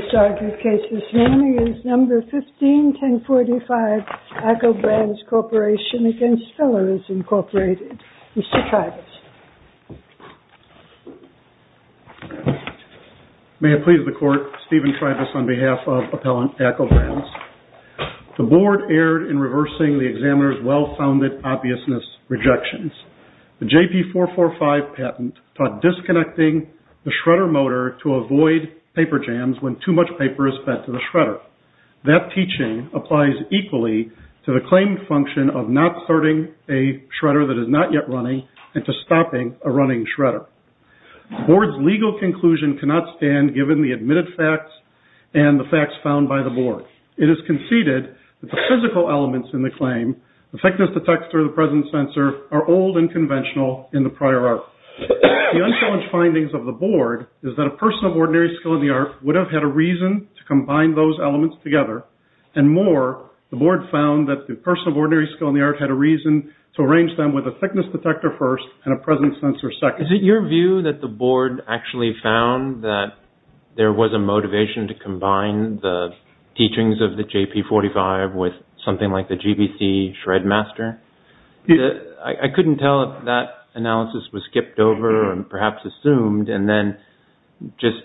Mr. Tribus. May it please the Court, Stephen Tribus on behalf of Appellant ACCO Brands. The Board erred in reversing the examiner's well-founded obviousness rejections. The JP445 patent taught disconnecting the shredder motor to avoid paper jams when too much paper is fed to the shredder. That teaching applies equally to the claim function of not starting a shredder that is not yet running and to stopping a running shredder. The Board's legal conclusion cannot stand given the admitted facts and the facts found by the Board. It is conceded that the physical elements in the claim, the thickness detector, the presence sensor, are old and conventional in the prior art. The unchallenged findings of the Board is that a person of ordinary skill in the art would have had a reason to combine those elements together, and more, the Board found that the person of ordinary skill in the art had a reason to arrange them with a thickness detector first and a presence sensor second. Is it your view that the Board actually found that there was a motivation to combine the teachings of the JP45 with something like the GBC Shred Master? I couldn't tell if that analysis was skipped over and perhaps assumed and then just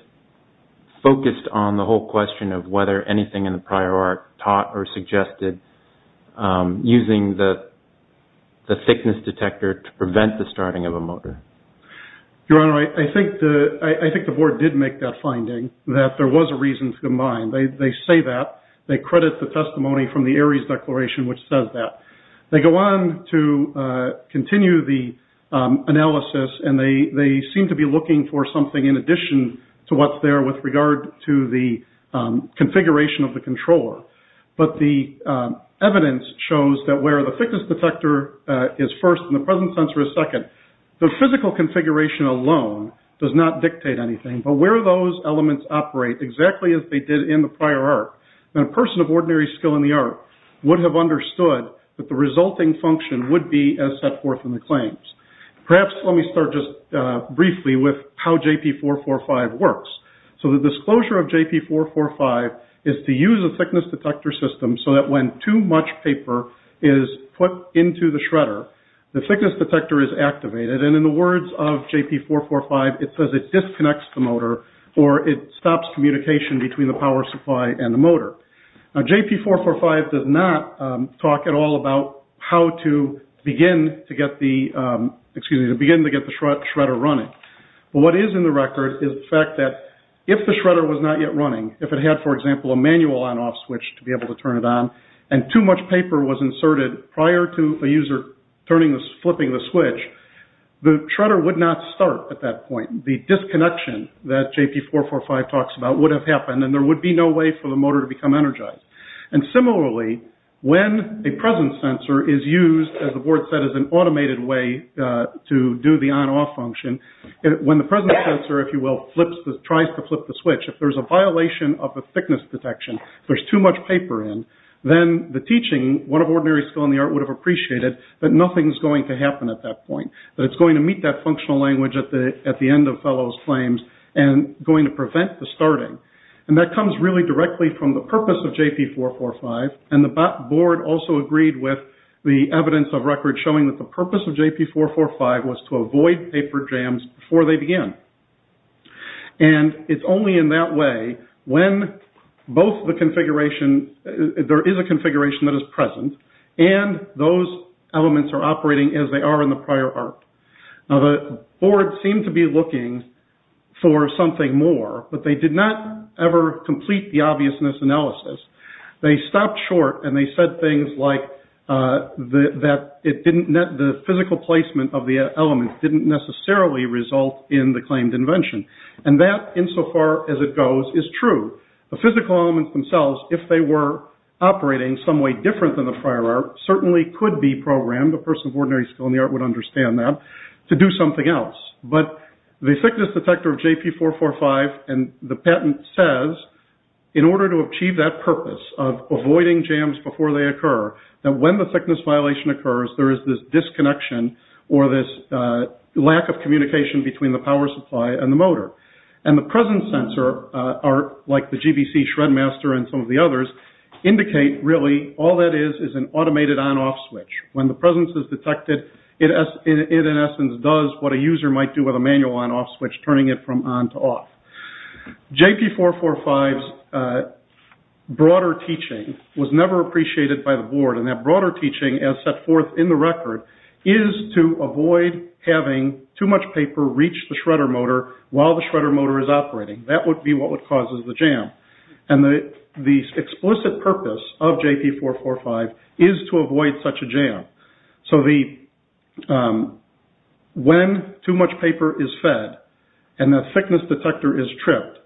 focused on the whole question of whether anything in the prior art taught or suggested using the thickness detector to prevent the starting of a motor. Your Honor, I think the Board did make that finding, that there was a reason to combine. They say that. They credit the testimony from the Ares Declaration which says that. They go on to continue the analysis and they seem to be looking for something in addition to what's there with regard to the configuration of the controller, but the evidence shows that the thickness detector is first and the presence sensor is second. The physical configuration alone does not dictate anything, but where those elements operate exactly as they did in the prior art, then a person of ordinary skill in the art would have understood that the resulting function would be as set forth in the claims. Perhaps let me start just briefly with how JP445 works. So the disclosure of JP445 is to use a thickness detector system so that when too much paper is put into the shredder, the thickness detector is activated and in the words of JP445, it says it disconnects the motor or it stops communication between the power supply and the motor. Now JP445 does not talk at all about how to begin to get the shredder running, but what is in the record is the fact that if the shredder was not yet running, if it had, for example, a manual on-off switch to be able to turn it on and too much paper was inserted prior to a user flipping the switch, the shredder would not start at that point. The disconnection that JP445 talks about would have happened and there would be no way for the motor to become energized. And similarly, when a presence sensor is used, as the board said, as an automated way to do the on-off function, when the presence sensor, if you will, tries to flip the switch, if there's a violation of the thickness detection, if there's too much paper in, then the teaching, one of ordinary skill in the art would have appreciated that nothing is going to happen at that point, that it's going to meet that functional language at the end of fellows claims and going to prevent the starting. And that comes really directly from the purpose of JP445 and the board also agreed with the evidence of record showing that the purpose of JP445 was to avoid paper jams before they began. And it's only in that way when both the configuration, there is a configuration that is present and those elements are operating as they are in the prior art. Now the board seemed to be looking for something more, but they did not ever complete the obviousness analysis. They stopped short and they said things like that it didn't net the physical placement of the elements didn't necessarily result in the claimed invention. And that, insofar as it goes, is true. The physical elements themselves, if they were operating some way different than the prior art, certainly could be programmed, a person of ordinary skill in the art would understand that, to do something else. But the thickness detector of JP445 and the patent says, in order to achieve that purpose of avoiding jams before they occur, that when the thickness violation occurs, there is this disconnection or this lack of communication between the power supply and the motor. And the presence sensor, like the GBC Shred Master and some of the others, indicate really all that is, is an automated on-off switch. When the presence is detected, it in essence does what a user might do with a manual on-off switch, turning it from on to off. JP445's broader teaching was never appreciated by the is to avoid having too much paper reach the shredder motor while the shredder motor is operating. That would be what would cause the jam. And the explicit purpose of JP445 is to avoid such a jam. So, when too much paper is fed and the thickness detector is tripped,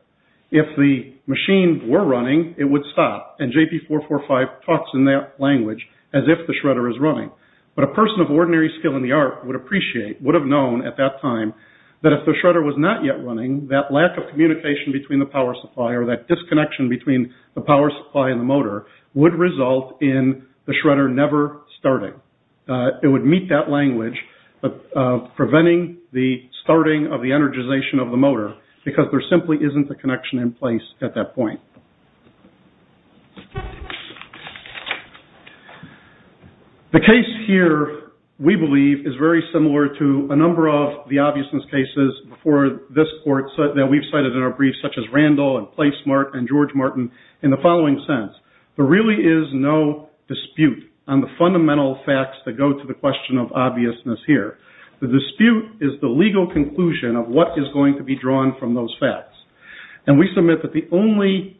if the machine were running, it would and JP445 talks in that language as if the shredder is running. But a person of ordinary skill in the art would appreciate, would have known at that time, that if the shredder was not yet running, that lack of communication between the power supply or that disconnection between the power supply and the motor would result in the shredder never starting. It would meet that language of preventing the starting of the energization of the motor because there simply isn't a connection in place at that point. The case here, we believe, is very similar to a number of the obviousness cases before this court that we've cited in our briefs such as Randall and PlaySmart and George Martin in the following sense. There really is no dispute on the fundamental facts that go to the question of obviousness here. The dispute is the legal conclusion of what is going to be drawn from those facts. And we submit that the only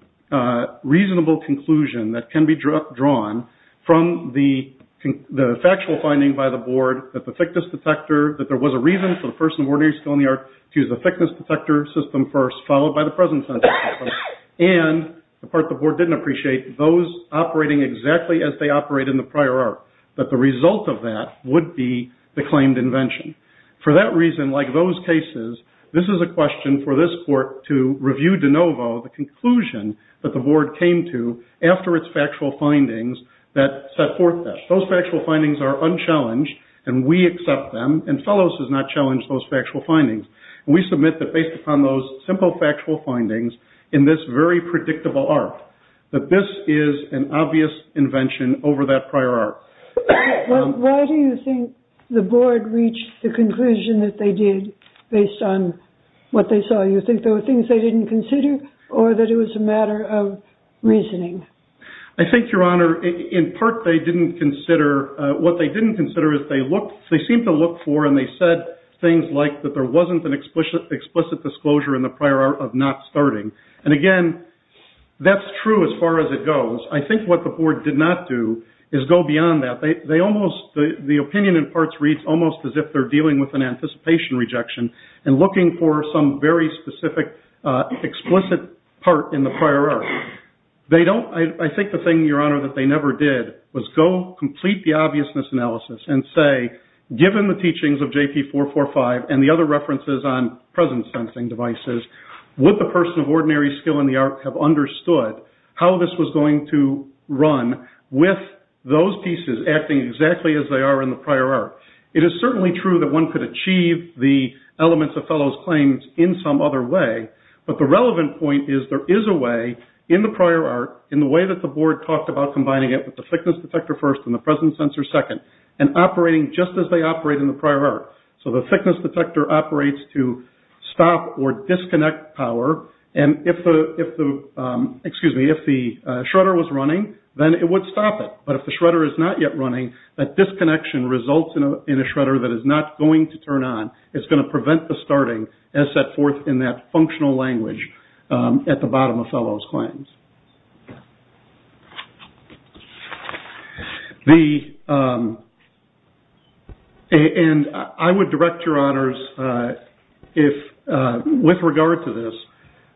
reasonable conclusion that can be drawn from the factual finding by the board, that the thickness detector, that there was a reason for the person of ordinary skill in the art to use the thickness detector system first, followed by the presence sensor system, and the part the board didn't appreciate, those operating exactly as they operate in the prior art, that the result of that would be the claimed invention. For that reason, like those cases, this is a question for this court to review de novo the conclusion that the board came to after its factual findings that set forth that. Those factual findings are unchallenged and we accept them, and Fellows has not challenged those factual findings. We submit that based upon those simple factual findings in this very predictable art, that this is an obvious invention over that prior art. Why do you think the board reached the conclusion that they did based on what they saw? You think there were things they didn't consider, or that it was a matter of reasoning? I think, Your Honor, in part they didn't consider, what they didn't consider is they looked, they seemed to look for, and they said things like that there wasn't an explicit disclosure in the prior art of not starting. And again, that's true as far as it goes. I think what the board did not do is go beyond that. They almost, the opinion in parts reads almost as if they're dealing with an anticipation rejection and looking for some very specific, explicit part in the prior art. They don't, I think the thing, Your Honor, that they never did was go complete the obviousness analysis and say, given the teachings of JP 445 and the other references on present sensing devices, would the person of ordinary skill in the art have understood how this was going to run with those pieces acting exactly as they are in the prior art? It is certainly true that one could achieve the elements of Fellow's claims in some other way, but the relevant point is there is a way in the prior art, in the way that the board talked about combining it with the thickness detector first and the present sensor second, and operating just as they operate in the prior art. So the thickness detector operates to stop or disconnect power, and if the, excuse me, if the shredder was running, then it would stop it. But if the shredder is not yet running, that disconnection results in a shredder that is not going to turn on. It's going to prevent the starting as set forth in that functional language at the bottom of Fellow's claims. And I would direct your honors, with regard to this,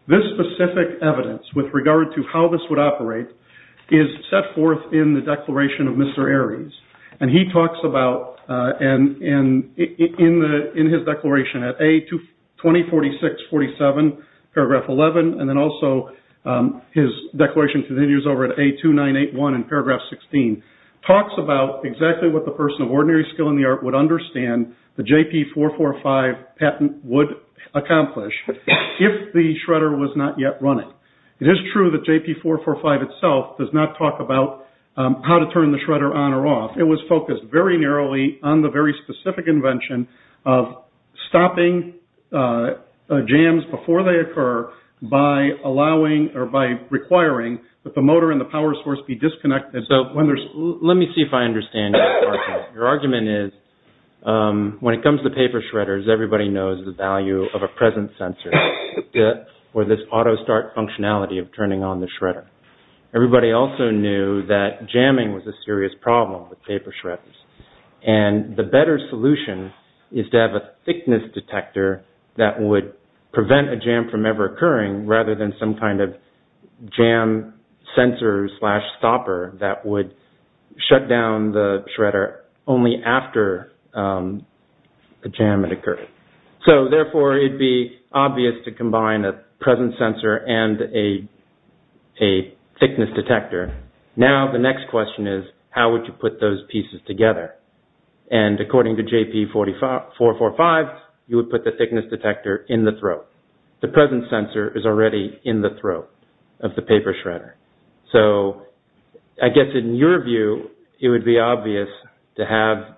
this specific evidence with regard to how this would operate is set forth in the Declaration of Mr. Aries, and he talks about, and in his declaration at A204647, paragraph 11, and then also his declaration continues over at A2981 in paragraph 16, talks about exactly what the person of ordinary skill in the art would understand the JP445 patent would accomplish if the shredder was not yet running. It is true that JP445 itself does not talk about how to turn the shredder on or off. It was focused very narrowly on the very specific invention of stopping jams before they occur by allowing or by requiring that the motor and the power source be disconnected. So let me see if I understand your argument. Your argument is, when it comes to paper shredders, everybody knows the value of a present sensor, or this auto-start functionality of turning on the shredder. Everybody also knew that jamming was a serious problem with paper shredders. And the better solution is to have a thickness detector that would prevent a jam from ever occurring, rather than some kind of jam sensor slash stopper that would shut down the shredder only after a jam had occurred. So therefore, it would be obvious to combine a present sensor and a thickness detector. Now the next question is, how would you put those pieces together? And according to JP445, you would put the thickness detector in the throat. The present sensor is already in the throat of the paper shredder. So I guess in your view, it would be obvious to have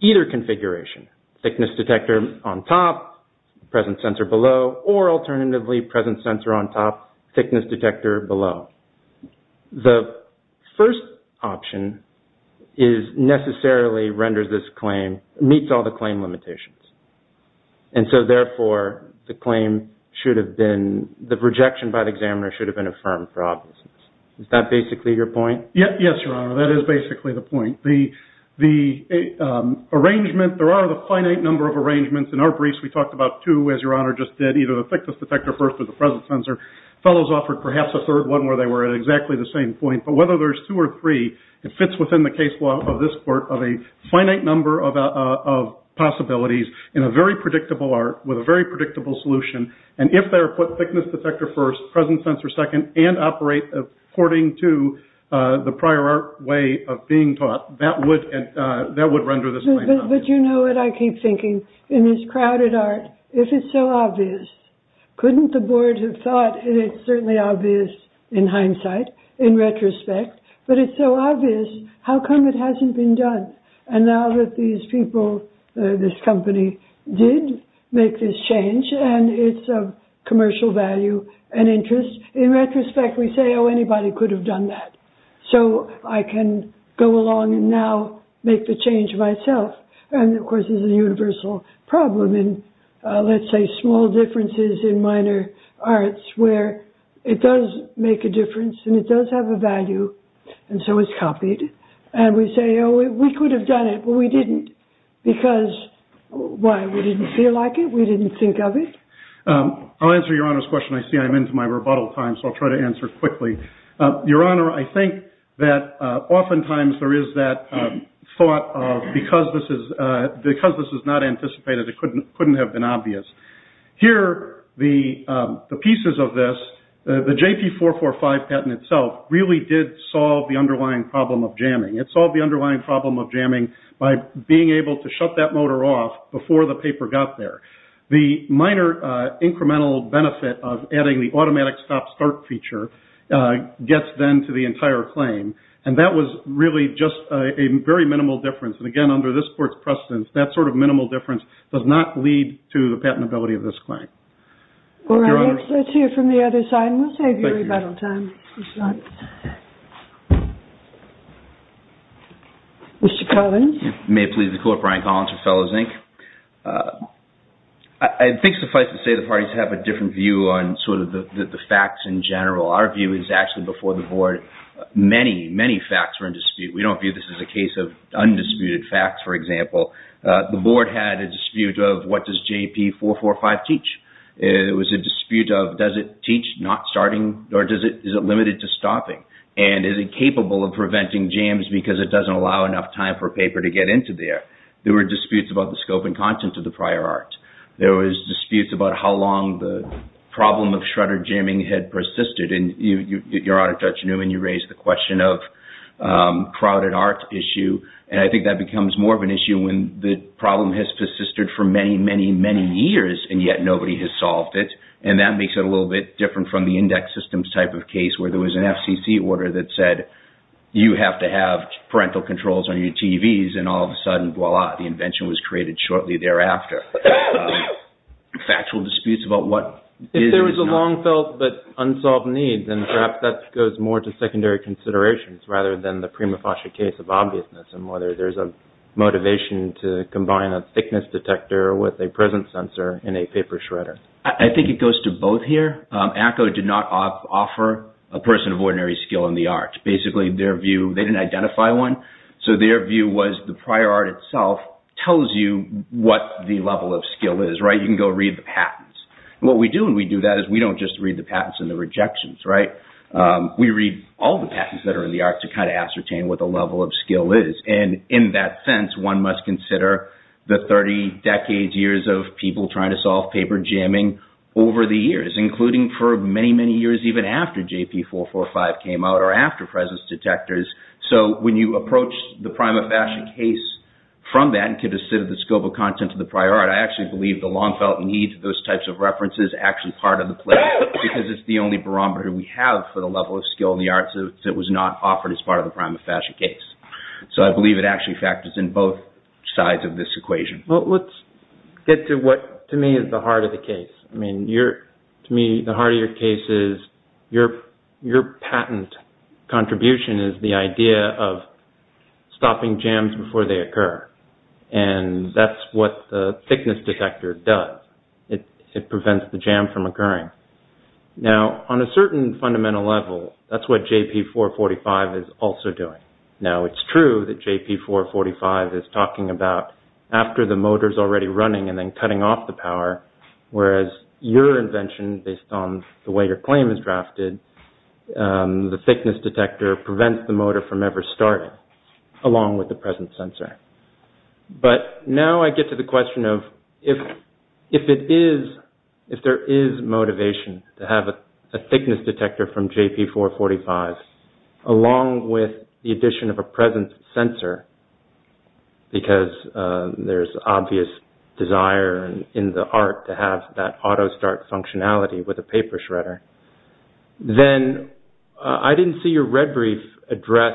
either configuration, thickness detector on top, present sensor below, or alternatively, present sensor on top, thickness detector below. The first option is necessarily renders this claim, meets all the claim limitations. And so therefore, the claim should have been, the rejection by the examiner should have been affirmed for obviousness. Is that basically your point? Yes, Your Honor. That is basically the point. The arrangement, there are a finite number of arrangements. In our briefs, we talked about two, as Your Honor just did, either the thickness detector first or the present sensor. Fellows offered perhaps a third one where they were at exactly the same point. But whether there's two or three, it fits within the case law of this court of a finite number of possibilities in a very predictable art with a very predictable solution. And if they're put thickness detector first, present sensor second, and operate according to the prior art way of being taught, that would render this claim obvious. But you know what I keep thinking? In this crowded art, if it's so obvious, couldn't the board have thought it's certainly obvious in hindsight, in retrospect? But it's so obvious, how come it hasn't been done? And now that these people, this company, did make this change, and it's of commercial value and interest. In retrospect, we say, oh, anybody could have done that. So I can go along and now make the change myself. And of course, this is a universal problem in, let's say, small differences in minor arts, where it does make a difference, and it does have a value. And so it's copied. And we say, we could have done it, but we didn't. Because why? We didn't feel like it. We didn't think of it. I'll answer Your Honor's question. I see I'm into my rebuttal time, so I'll try to answer quickly. Your Honor, I think that oftentimes there is that thought of, because this is not anticipated, it couldn't have been obvious. Here, the pieces of this, the JP 445 patent itself, really did solve the underlying problem of jamming. It solved the underlying problem of jamming by being able to shut that motor off before the paper got there. The minor incremental benefit of adding the automatic stop-start feature gets then to the entire claim. And that was really just a very minimal difference. And again, under this Court's precedence, that sort of minimal difference does not lead to the patentability of this claim. Your Honor? All right, let's hear from the other side, and we'll save your rebuttal time. Mr. Collins? May it please the Court, Brian Collins of Fellows, Inc. I think suffice it to say the parties have a different view on sort of the facts in general. Our view is actually before the Board, many, many facts were in dispute. We don't view this as a case of undisputed facts, for example. The Board had a dispute of what does JP 445 teach? It was a dispute of does it teach not starting, or is it limited to stopping? And is it capable of preventing jams because it doesn't allow enough time for paper to get into there? There were disputes about the scope and content of the prior art. There was disputes about how long the problem of shredder jamming had persisted. And Your Honor, Judge Newman, you raised the question of crowded art issue. And I think that becomes more of an issue when the problem has persisted for many, many, many years, and yet nobody has solved it. And that makes it a little bit different from the index systems type of case where there was an FCC order that said you have to have parental controls on your TVs, and all of a sudden, voila, the invention was created shortly thereafter. Factual disputes about what is and is not. If there was a long-felt but unsolved need, then perhaps that goes more to secondary considerations rather than the prima motivation to combine a thickness detector with a present sensor in a paper shredder. I think it goes to both here. ACCO did not offer a person of ordinary skill in the art. Basically, their view, they didn't identify one. So their view was the prior art itself tells you what the level of skill is, right? You can go read the patents. What we do when we do that is we don't just read the patents and the rejections, right? We read all the patents that kind of ascertain what the level of skill is. And in that sense, one must consider the 30-decade years of people trying to solve paper jamming over the years, including for many, many years even after JP445 came out or after presence detectors. So when you approach the prima fashion case from that and to the scope of content of the prior art, I actually believe the long-felt need for those types of references is actually part of the play because it's the only barometer we have for the level of skill in the arts that was not offered as part of the prima fashion case. So I believe it actually factors in both sides of this equation. Well, let's get to what to me is the heart of the case. I mean, to me, the heart of your case is your patent contribution is the idea of stopping jams before they occur. And that's what the occurring. Now on a certain fundamental level, that's what JP445 is also doing. Now it's true that JP445 is talking about after the motor's already running and then cutting off the power, whereas your invention based on the way your claim is drafted, the thickness detector prevents the motor from ever starting along with the present sensor. But now I get to the question if there is motivation to have a thickness detector from JP445 along with the addition of a present sensor, because there's obvious desire in the art to have that auto start functionality with a paper shredder, then I didn't see your red brief address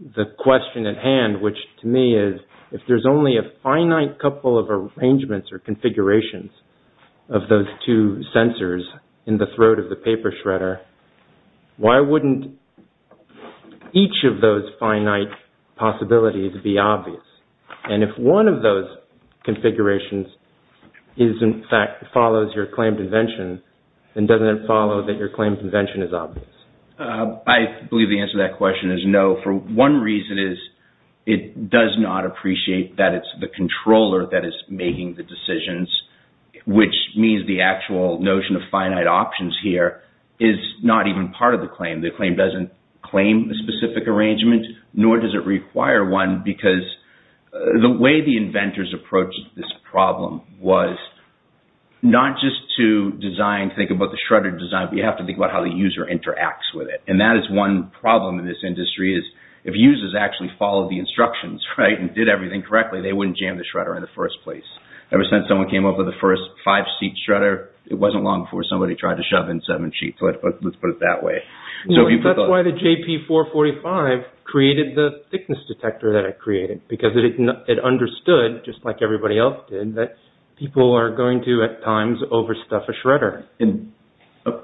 the question at hand, which to me is if there's only a finite couple of arrangements or configurations of those two sensors in the throat of the paper shredder, why wouldn't each of those finite possibilities be obvious? And if one of those configurations is, in fact, follows your claim to invention, then doesn't it follow that your claim to invention is obvious? I believe the answer to that question is no. One reason is it does not appreciate that it's the controller that is making the decisions, which means the actual notion of finite options here is not even part of the claim. The claim doesn't claim a specific arrangement, nor does it require one, because the way the inventors approached this problem was not just to design, think about the shredder design, but you have to think about how the user interacts with it. And that is one problem in this industry is if users actually followed the instructions and did everything correctly, they wouldn't jam the shredder in the first place. Ever since someone came up with the first five-seat shredder, it wasn't long before somebody tried to shove in seven sheets. Let's put it that way. That's why the JP445 created the thickness detector that it created, because it understood, just like everybody else did, that people are going to, at times, overstuff a shredder. And that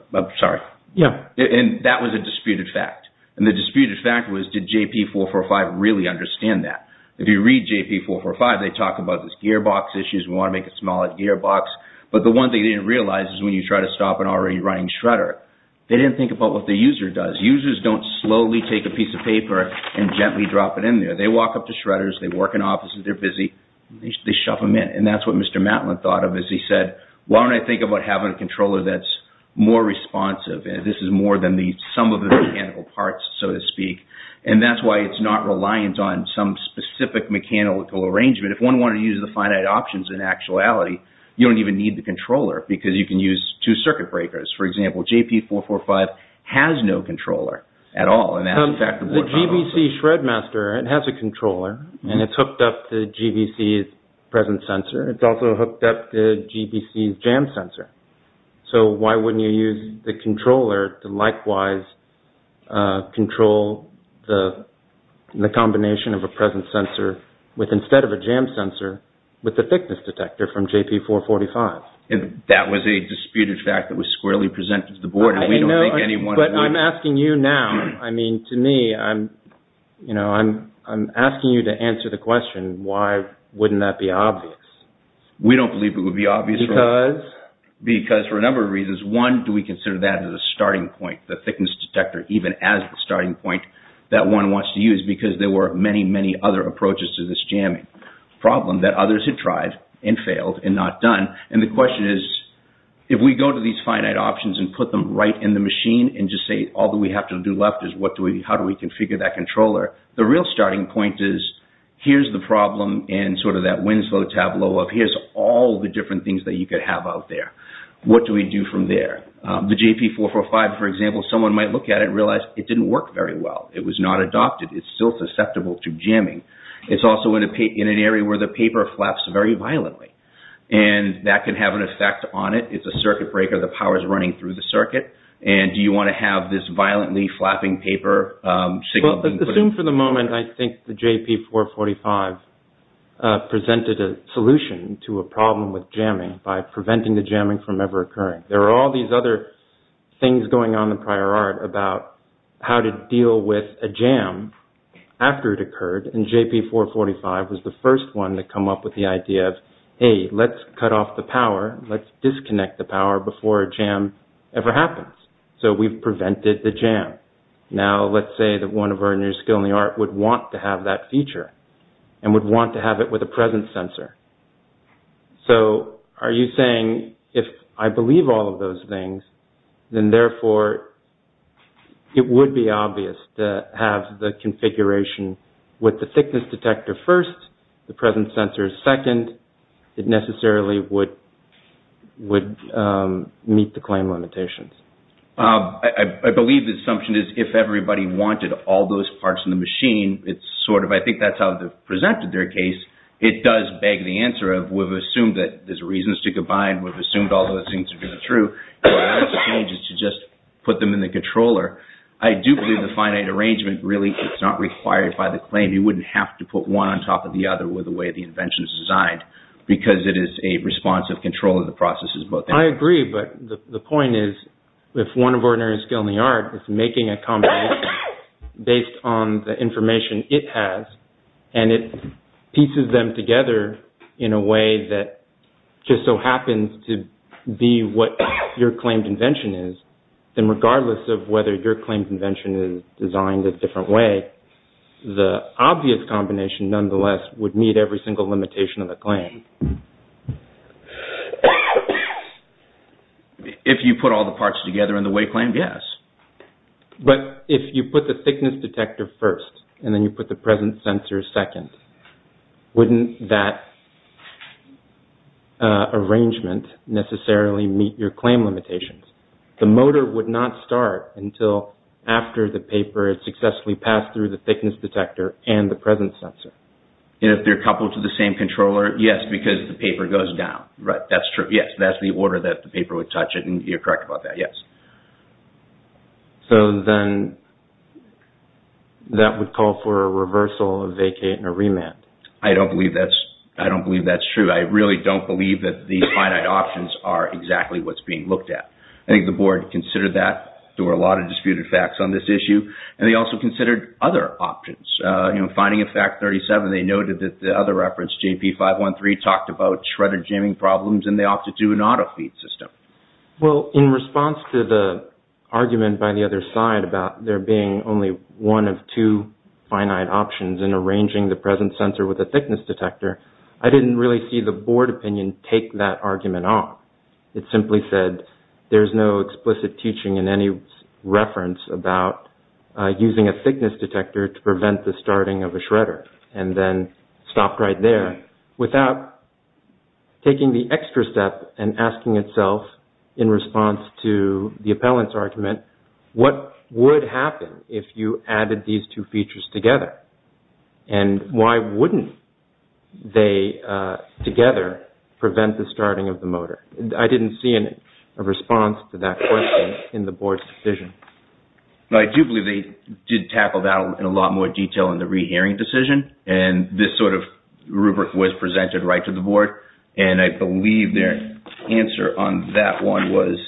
was a disputed fact. And the disputed fact was, did JP445 really understand that? If you read JP445, they talk about this gearbox issues, we want to make it smaller gearbox. But the one thing they didn't realize is when you try to stop an already running shredder, they didn't think about what the user does. Users don't slowly take a piece of paper and gently drop it in there. They walk up to shredders, they work in offices, they're busy, they shove them in. And that's what Mr. Matlin thought of as he said, why don't I think about having a controller that's more responsive? This is more than some of the mechanical parts, so to speak. And that's why it's not reliant on some specific mechanical arrangement. If one wanted to use the finite options in actuality, you don't even need the controller because you can use two circuit breakers. For example, JP445 has no controller at all. The GBC Shred Master, it has a controller and it's hooked up to GBC's present sensor. It's also hooked up to GBC's jam sensor. So why wouldn't you use the controller to likewise control the combination of a present sensor with instead of a jam sensor, with the thickness detector from JP445? That was a disputed fact that was squarely I mean, to me, I'm asking you to answer the question, why wouldn't that be obvious? We don't believe it would be obvious. Because? Because for a number of reasons. One, do we consider that as a starting point, the thickness detector, even as the starting point that one wants to use because there were many, many other approaches to this jamming problem that others had tried and failed and not done. And the question is, if we go to these finite options and put them right in the machine and just say, all that we have to do left is how do we configure that controller? The real starting point is, here's the problem in sort of that Winslow tableau of, here's all the different things that you could have out there. What do we do from there? The JP445, for example, someone might look at it and realize it didn't work very well. It was not adopted. It's still susceptible to jamming. It's also in an area where the paper flaps very violently. And that could have an effect on it. It's a circuit breaker. The power is running through the circuit. And do you want to have this violently flapping paper? Assume for the moment, I think the JP445 presented a solution to a problem with jamming by preventing the jamming from ever occurring. There are all these other things going on in the prior art about how to deal with a jam after it occurred. And JP445 was the first one to come up with the idea of, hey, let's cut off the power. Let's disconnect the power before a jam ever happens. So we've prevented the jam. Now let's say that one of our new skill in the art would want to have that feature and would want to have it with a presence sensor. So are you saying, if I believe all of those things, then therefore it would be obvious to have the configuration with the thickness detector first, the presence sensor second. It necessarily would meet the claim limitations? I believe the assumption is if everybody wanted all those parts in the machine, it's sort of, I think that's how they presented their case. It does beg the answer of, we've assumed that there's reasons to combine. We've assumed all those things to be true. What I want to change is to just put them in the controller. I do believe the finite arrangement really is not required by the claim. You wouldn't have to put one on top of the other with the way the invention is designed because it is a responsive control of the processes. I agree. But the point is, if one of our new skill in the art is making a combination based on the information it has, and it pieces them together in a way that just so happens to be what your claimed invention is, then regardless of whether your claimed invention is designed a different way, the obvious combination nonetheless would meet every single limitation of the claim. If you put all the parts together in the way claimed, yes. But if you put the thickness detector first and then you put the present sensor second, wouldn't that arrangement necessarily meet your claim limitations? The motor would not start until after the paper had successfully passed through the thickness detector and the present sensor. If they're coupled to the same controller, yes, because the paper goes down. That's true. Yes, that's the order that the paper would touch it and you're correct about that. Yes. So then that would call for a reversal, a vacate, and a remand. I don't believe that's true. I really don't believe that these finite options are exactly what's being looked at. I think the board considered that. There were a lot of disputed facts on this issue and they also considered other options. You know, finding a fact 37, they noted that the other reference, JP513, talked about shredder jamming problems and they opted to do an auto feed system. Well, in response to the argument by the other side about there being only one of two finite options in arranging the present sensor with a thickness detector, I didn't really see the board opinion take that argument on. It simply said there's no explicit teaching in any reference about using a thickness detector to prevent the starting of a shredder and then stopped right without taking the extra step and asking itself in response to the appellant's argument, what would happen if you added these two features together and why wouldn't they together prevent the starting of the motor? I didn't see a response to that question in the board's decision. I do believe they did tackle that in a lot more detail in the re-hearing decision and this sort of rubric was presented right to the board and I believe their answer on that one was,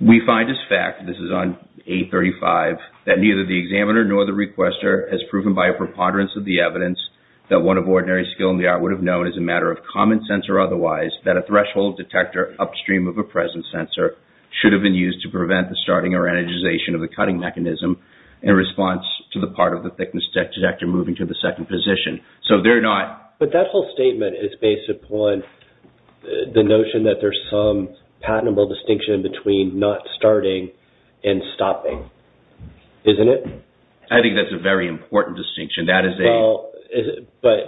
we find as fact, this is on A35, that neither the examiner nor the requester has proven by a preponderance of the evidence that one of ordinary skill in the art would have known as a matter of common sense or otherwise that a threshold detector upstream of a present sensor should have been used to prevent the starting or energization of the cutting mechanism in response to the part of the thickness detector moving to the second position. But that whole statement is based upon the notion that there's some patentable distinction between not starting and stopping, isn't it? I think that's a very important distinction. But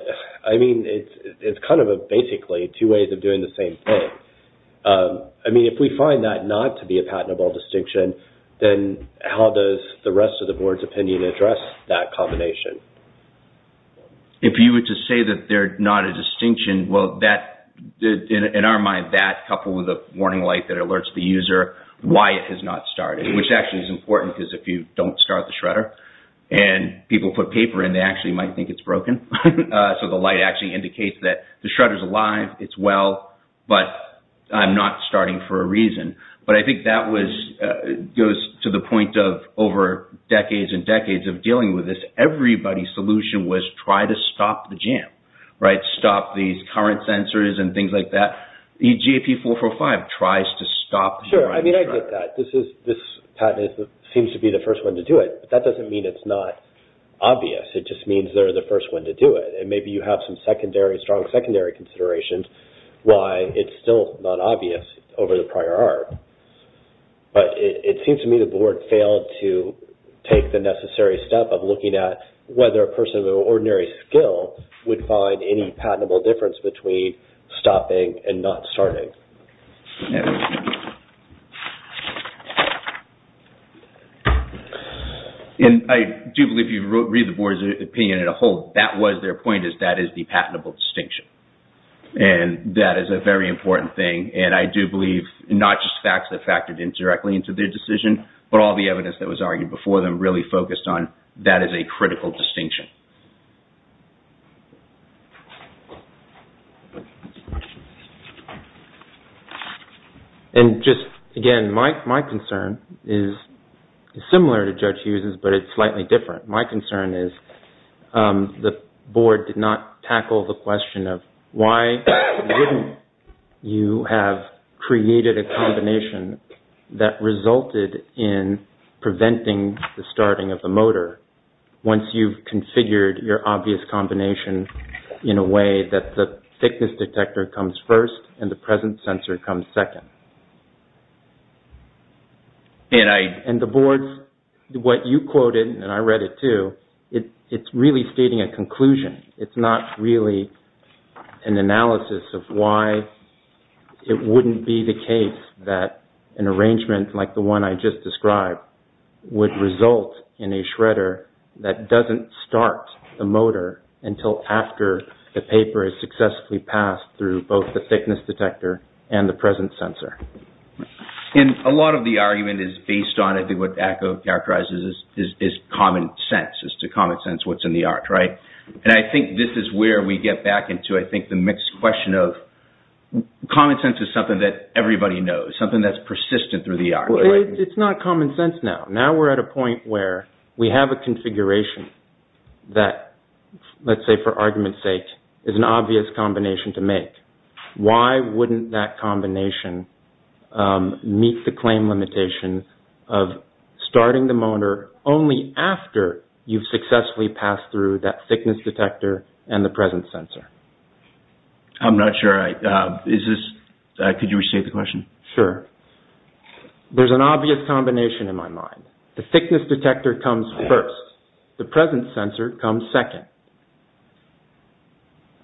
it's kind of basically two ways of doing the same thing. If we find that not to be a distinction, will the rest of the board's opinion address that combination? If you were to say that they're not a distinction, well, in our mind, that coupled with a warning light that alerts the user why it has not started, which actually is important because if you don't start the shredder and people put paper in, they actually might think it's broken. So the light actually indicates that the shredder's alive, it's well, but I'm not starting for a reason. But I think that goes to the point of over decades and decades of dealing with this, everybody's solution was try to stop the jam, right? Stop these current sensors and things like that. EGP 445 tries to stop the shredder. Sure, I mean, I get that. This patent seems to be the first one to do it, but that doesn't mean it's not obvious. It just means they're the first one to do it. And maybe you have some strong secondary considerations why it's still not obvious over the prior art. But it seems to me the board failed to take the necessary step of looking at whether a person of ordinary skill would find any patentable difference between stopping and not starting. And I do believe you read the board's opinion as a whole. That was their point is that is patentable distinction. And that is a very important thing. And I do believe not just facts that factored in directly into their decision, but all the evidence that was argued before them really focused on that is a critical distinction. And just again, my concern is similar to Judge Hughes's, but it's slightly different. My concern is the board did not tackle the question of why wouldn't you have created a combination that resulted in preventing the starting of the motor once you've configured your obvious combination in a way that the thickness detector comes first and the present sensor comes second. And the board, what you quoted, and I read it too, it's really stating a conclusion. It's not really an analysis of why it wouldn't be the case that an arrangement like the one I just described would result in a shredder that doesn't start the motor until after the paper is successfully passed through both the thickness detector and the present sensor. And a lot of the argument is based on, I think what Acko characterizes is common sense, as to common sense, what's in the art, right? And I think this is where we get back into, I think, the mixed question of common sense is something that everybody knows, something that's persistent through the art. It's not common sense now. Now we're at a point where we have a configuration that, let's say for argument's sake, is an obvious combination to make. Why wouldn't that combination meet the claim limitation of starting the motor only after you've successfully passed through that thickness detector and the present sensor? I'm not sure. Could you restate the question? Sure. There's an obvious combination in my mind. The thickness detector comes first. The present sensor comes second.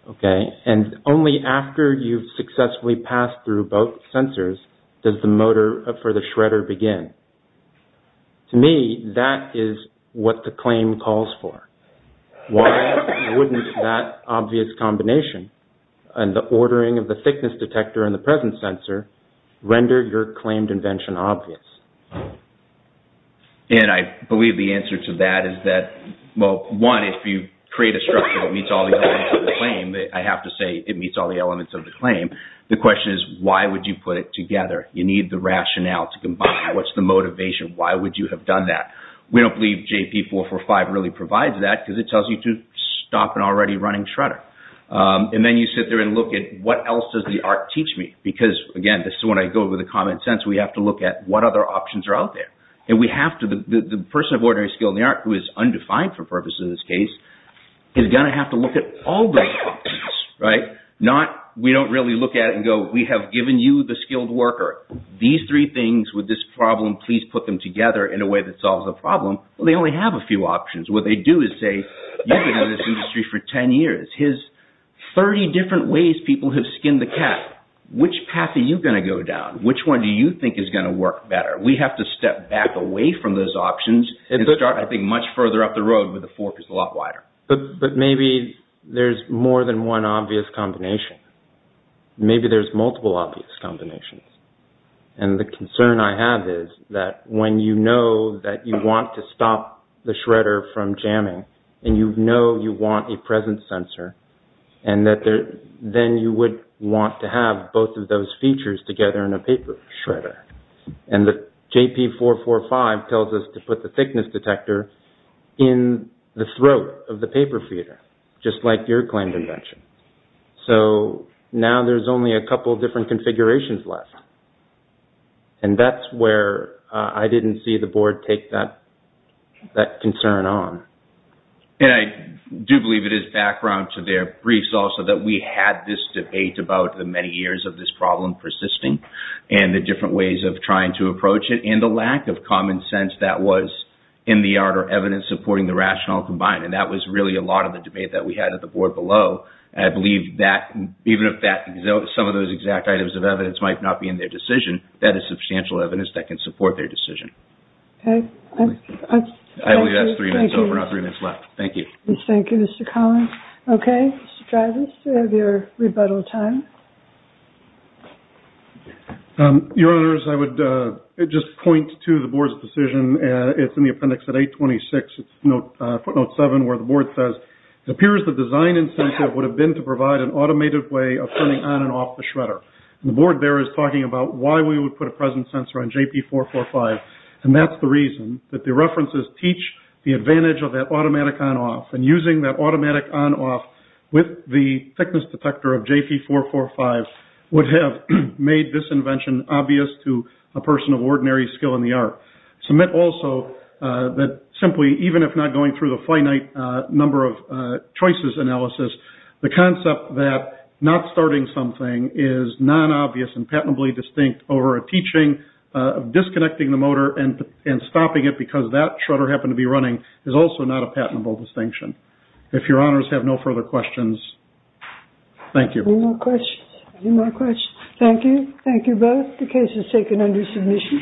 Okay. And only after you've successfully passed through both sensors does the motor for the shredder begin. To me, that is what the claim calls for. Why wouldn't that obvious combination and the ordering of the thickness detector and the present sensor render your claimed invention obvious? And I believe the answer to that is that, well, one, if you create a structure that meets all the elements of the claim, I have to say it meets all the elements of the claim. The question is, why would you put it together? You need the rationale to combine it. What's the motivation? Why would you have done that? We don't believe JP445 really provides that because it tells you to stop an already running shredder. And then you sit there and look at, what else does the art teach me? Because, again, this is when I go over the common sense. We have to look at what other options are out there. And the person of ordinary skill in the art, who is undefined for purposes of this case, is going to have to look at all the options. We don't really look at it and go, we have given you the skilled worker. These three things with this problem, please put them together in a way that solves the problem. Well, they only have a few options. What they do is say, you've been in this industry for 10 years. 30 different ways people have skinned the cat. Which path are you going to go down? Which one do you think is going to work better? We have to step back away from those options and start, I think, much further up the road where the fork is a lot wider. But maybe there's more than one obvious combination. Maybe there's multiple obvious combinations. And the concern I have is that when you know that you want to stop the shredder from jamming, and you know you want a present sensor, and then you would want to have both of those features together in a paper shredder. And the JP445 tells us to put the thickness detector in the throat of the paper feeder, just like your claim to mention. So now there's only a couple of different configurations left. And that's where I didn't see the board take that concern on. And I do believe it is background to their briefs also that we had this debate about the many years of this problem persisting, and the different ways of trying to approach it, and the lack of common sense that was in the art or evidence supporting the rationale combined. And that was really a lot of the debate that we had at the board below. I believe that even if some of those exact items of evidence might not be in their decision, that is substantial evidence that can be used to make a decision. Thank you, Mr. Collins. Okay, Mr. Dreyfus, you have your rebuttal time. Your Honors, I would just point to the board's decision. It's in the appendix at 826, footnote 7, where the board says, it appears the design incentive would have been to provide an automated way of turning on and off the shredder. The board there is talking about why we would put a present sensor on JP445. And that's the reason that the references teach the advantage of that automatic on-off. And using that automatic on-off with the thickness detector of JP445 would have made this invention obvious to a person of ordinary skill in the art. Submit also that simply, even if not going through the finite number of choices analysis, the concept that not starting something is non-obvious and patently distinct over a teaching of disconnecting the motor and stopping it because that shredder happened to be running is also not a patentable distinction. If your Honors have no further questions, thank you. Any more questions? Any more questions? Thank you. Thank you both. The case is taken under submission.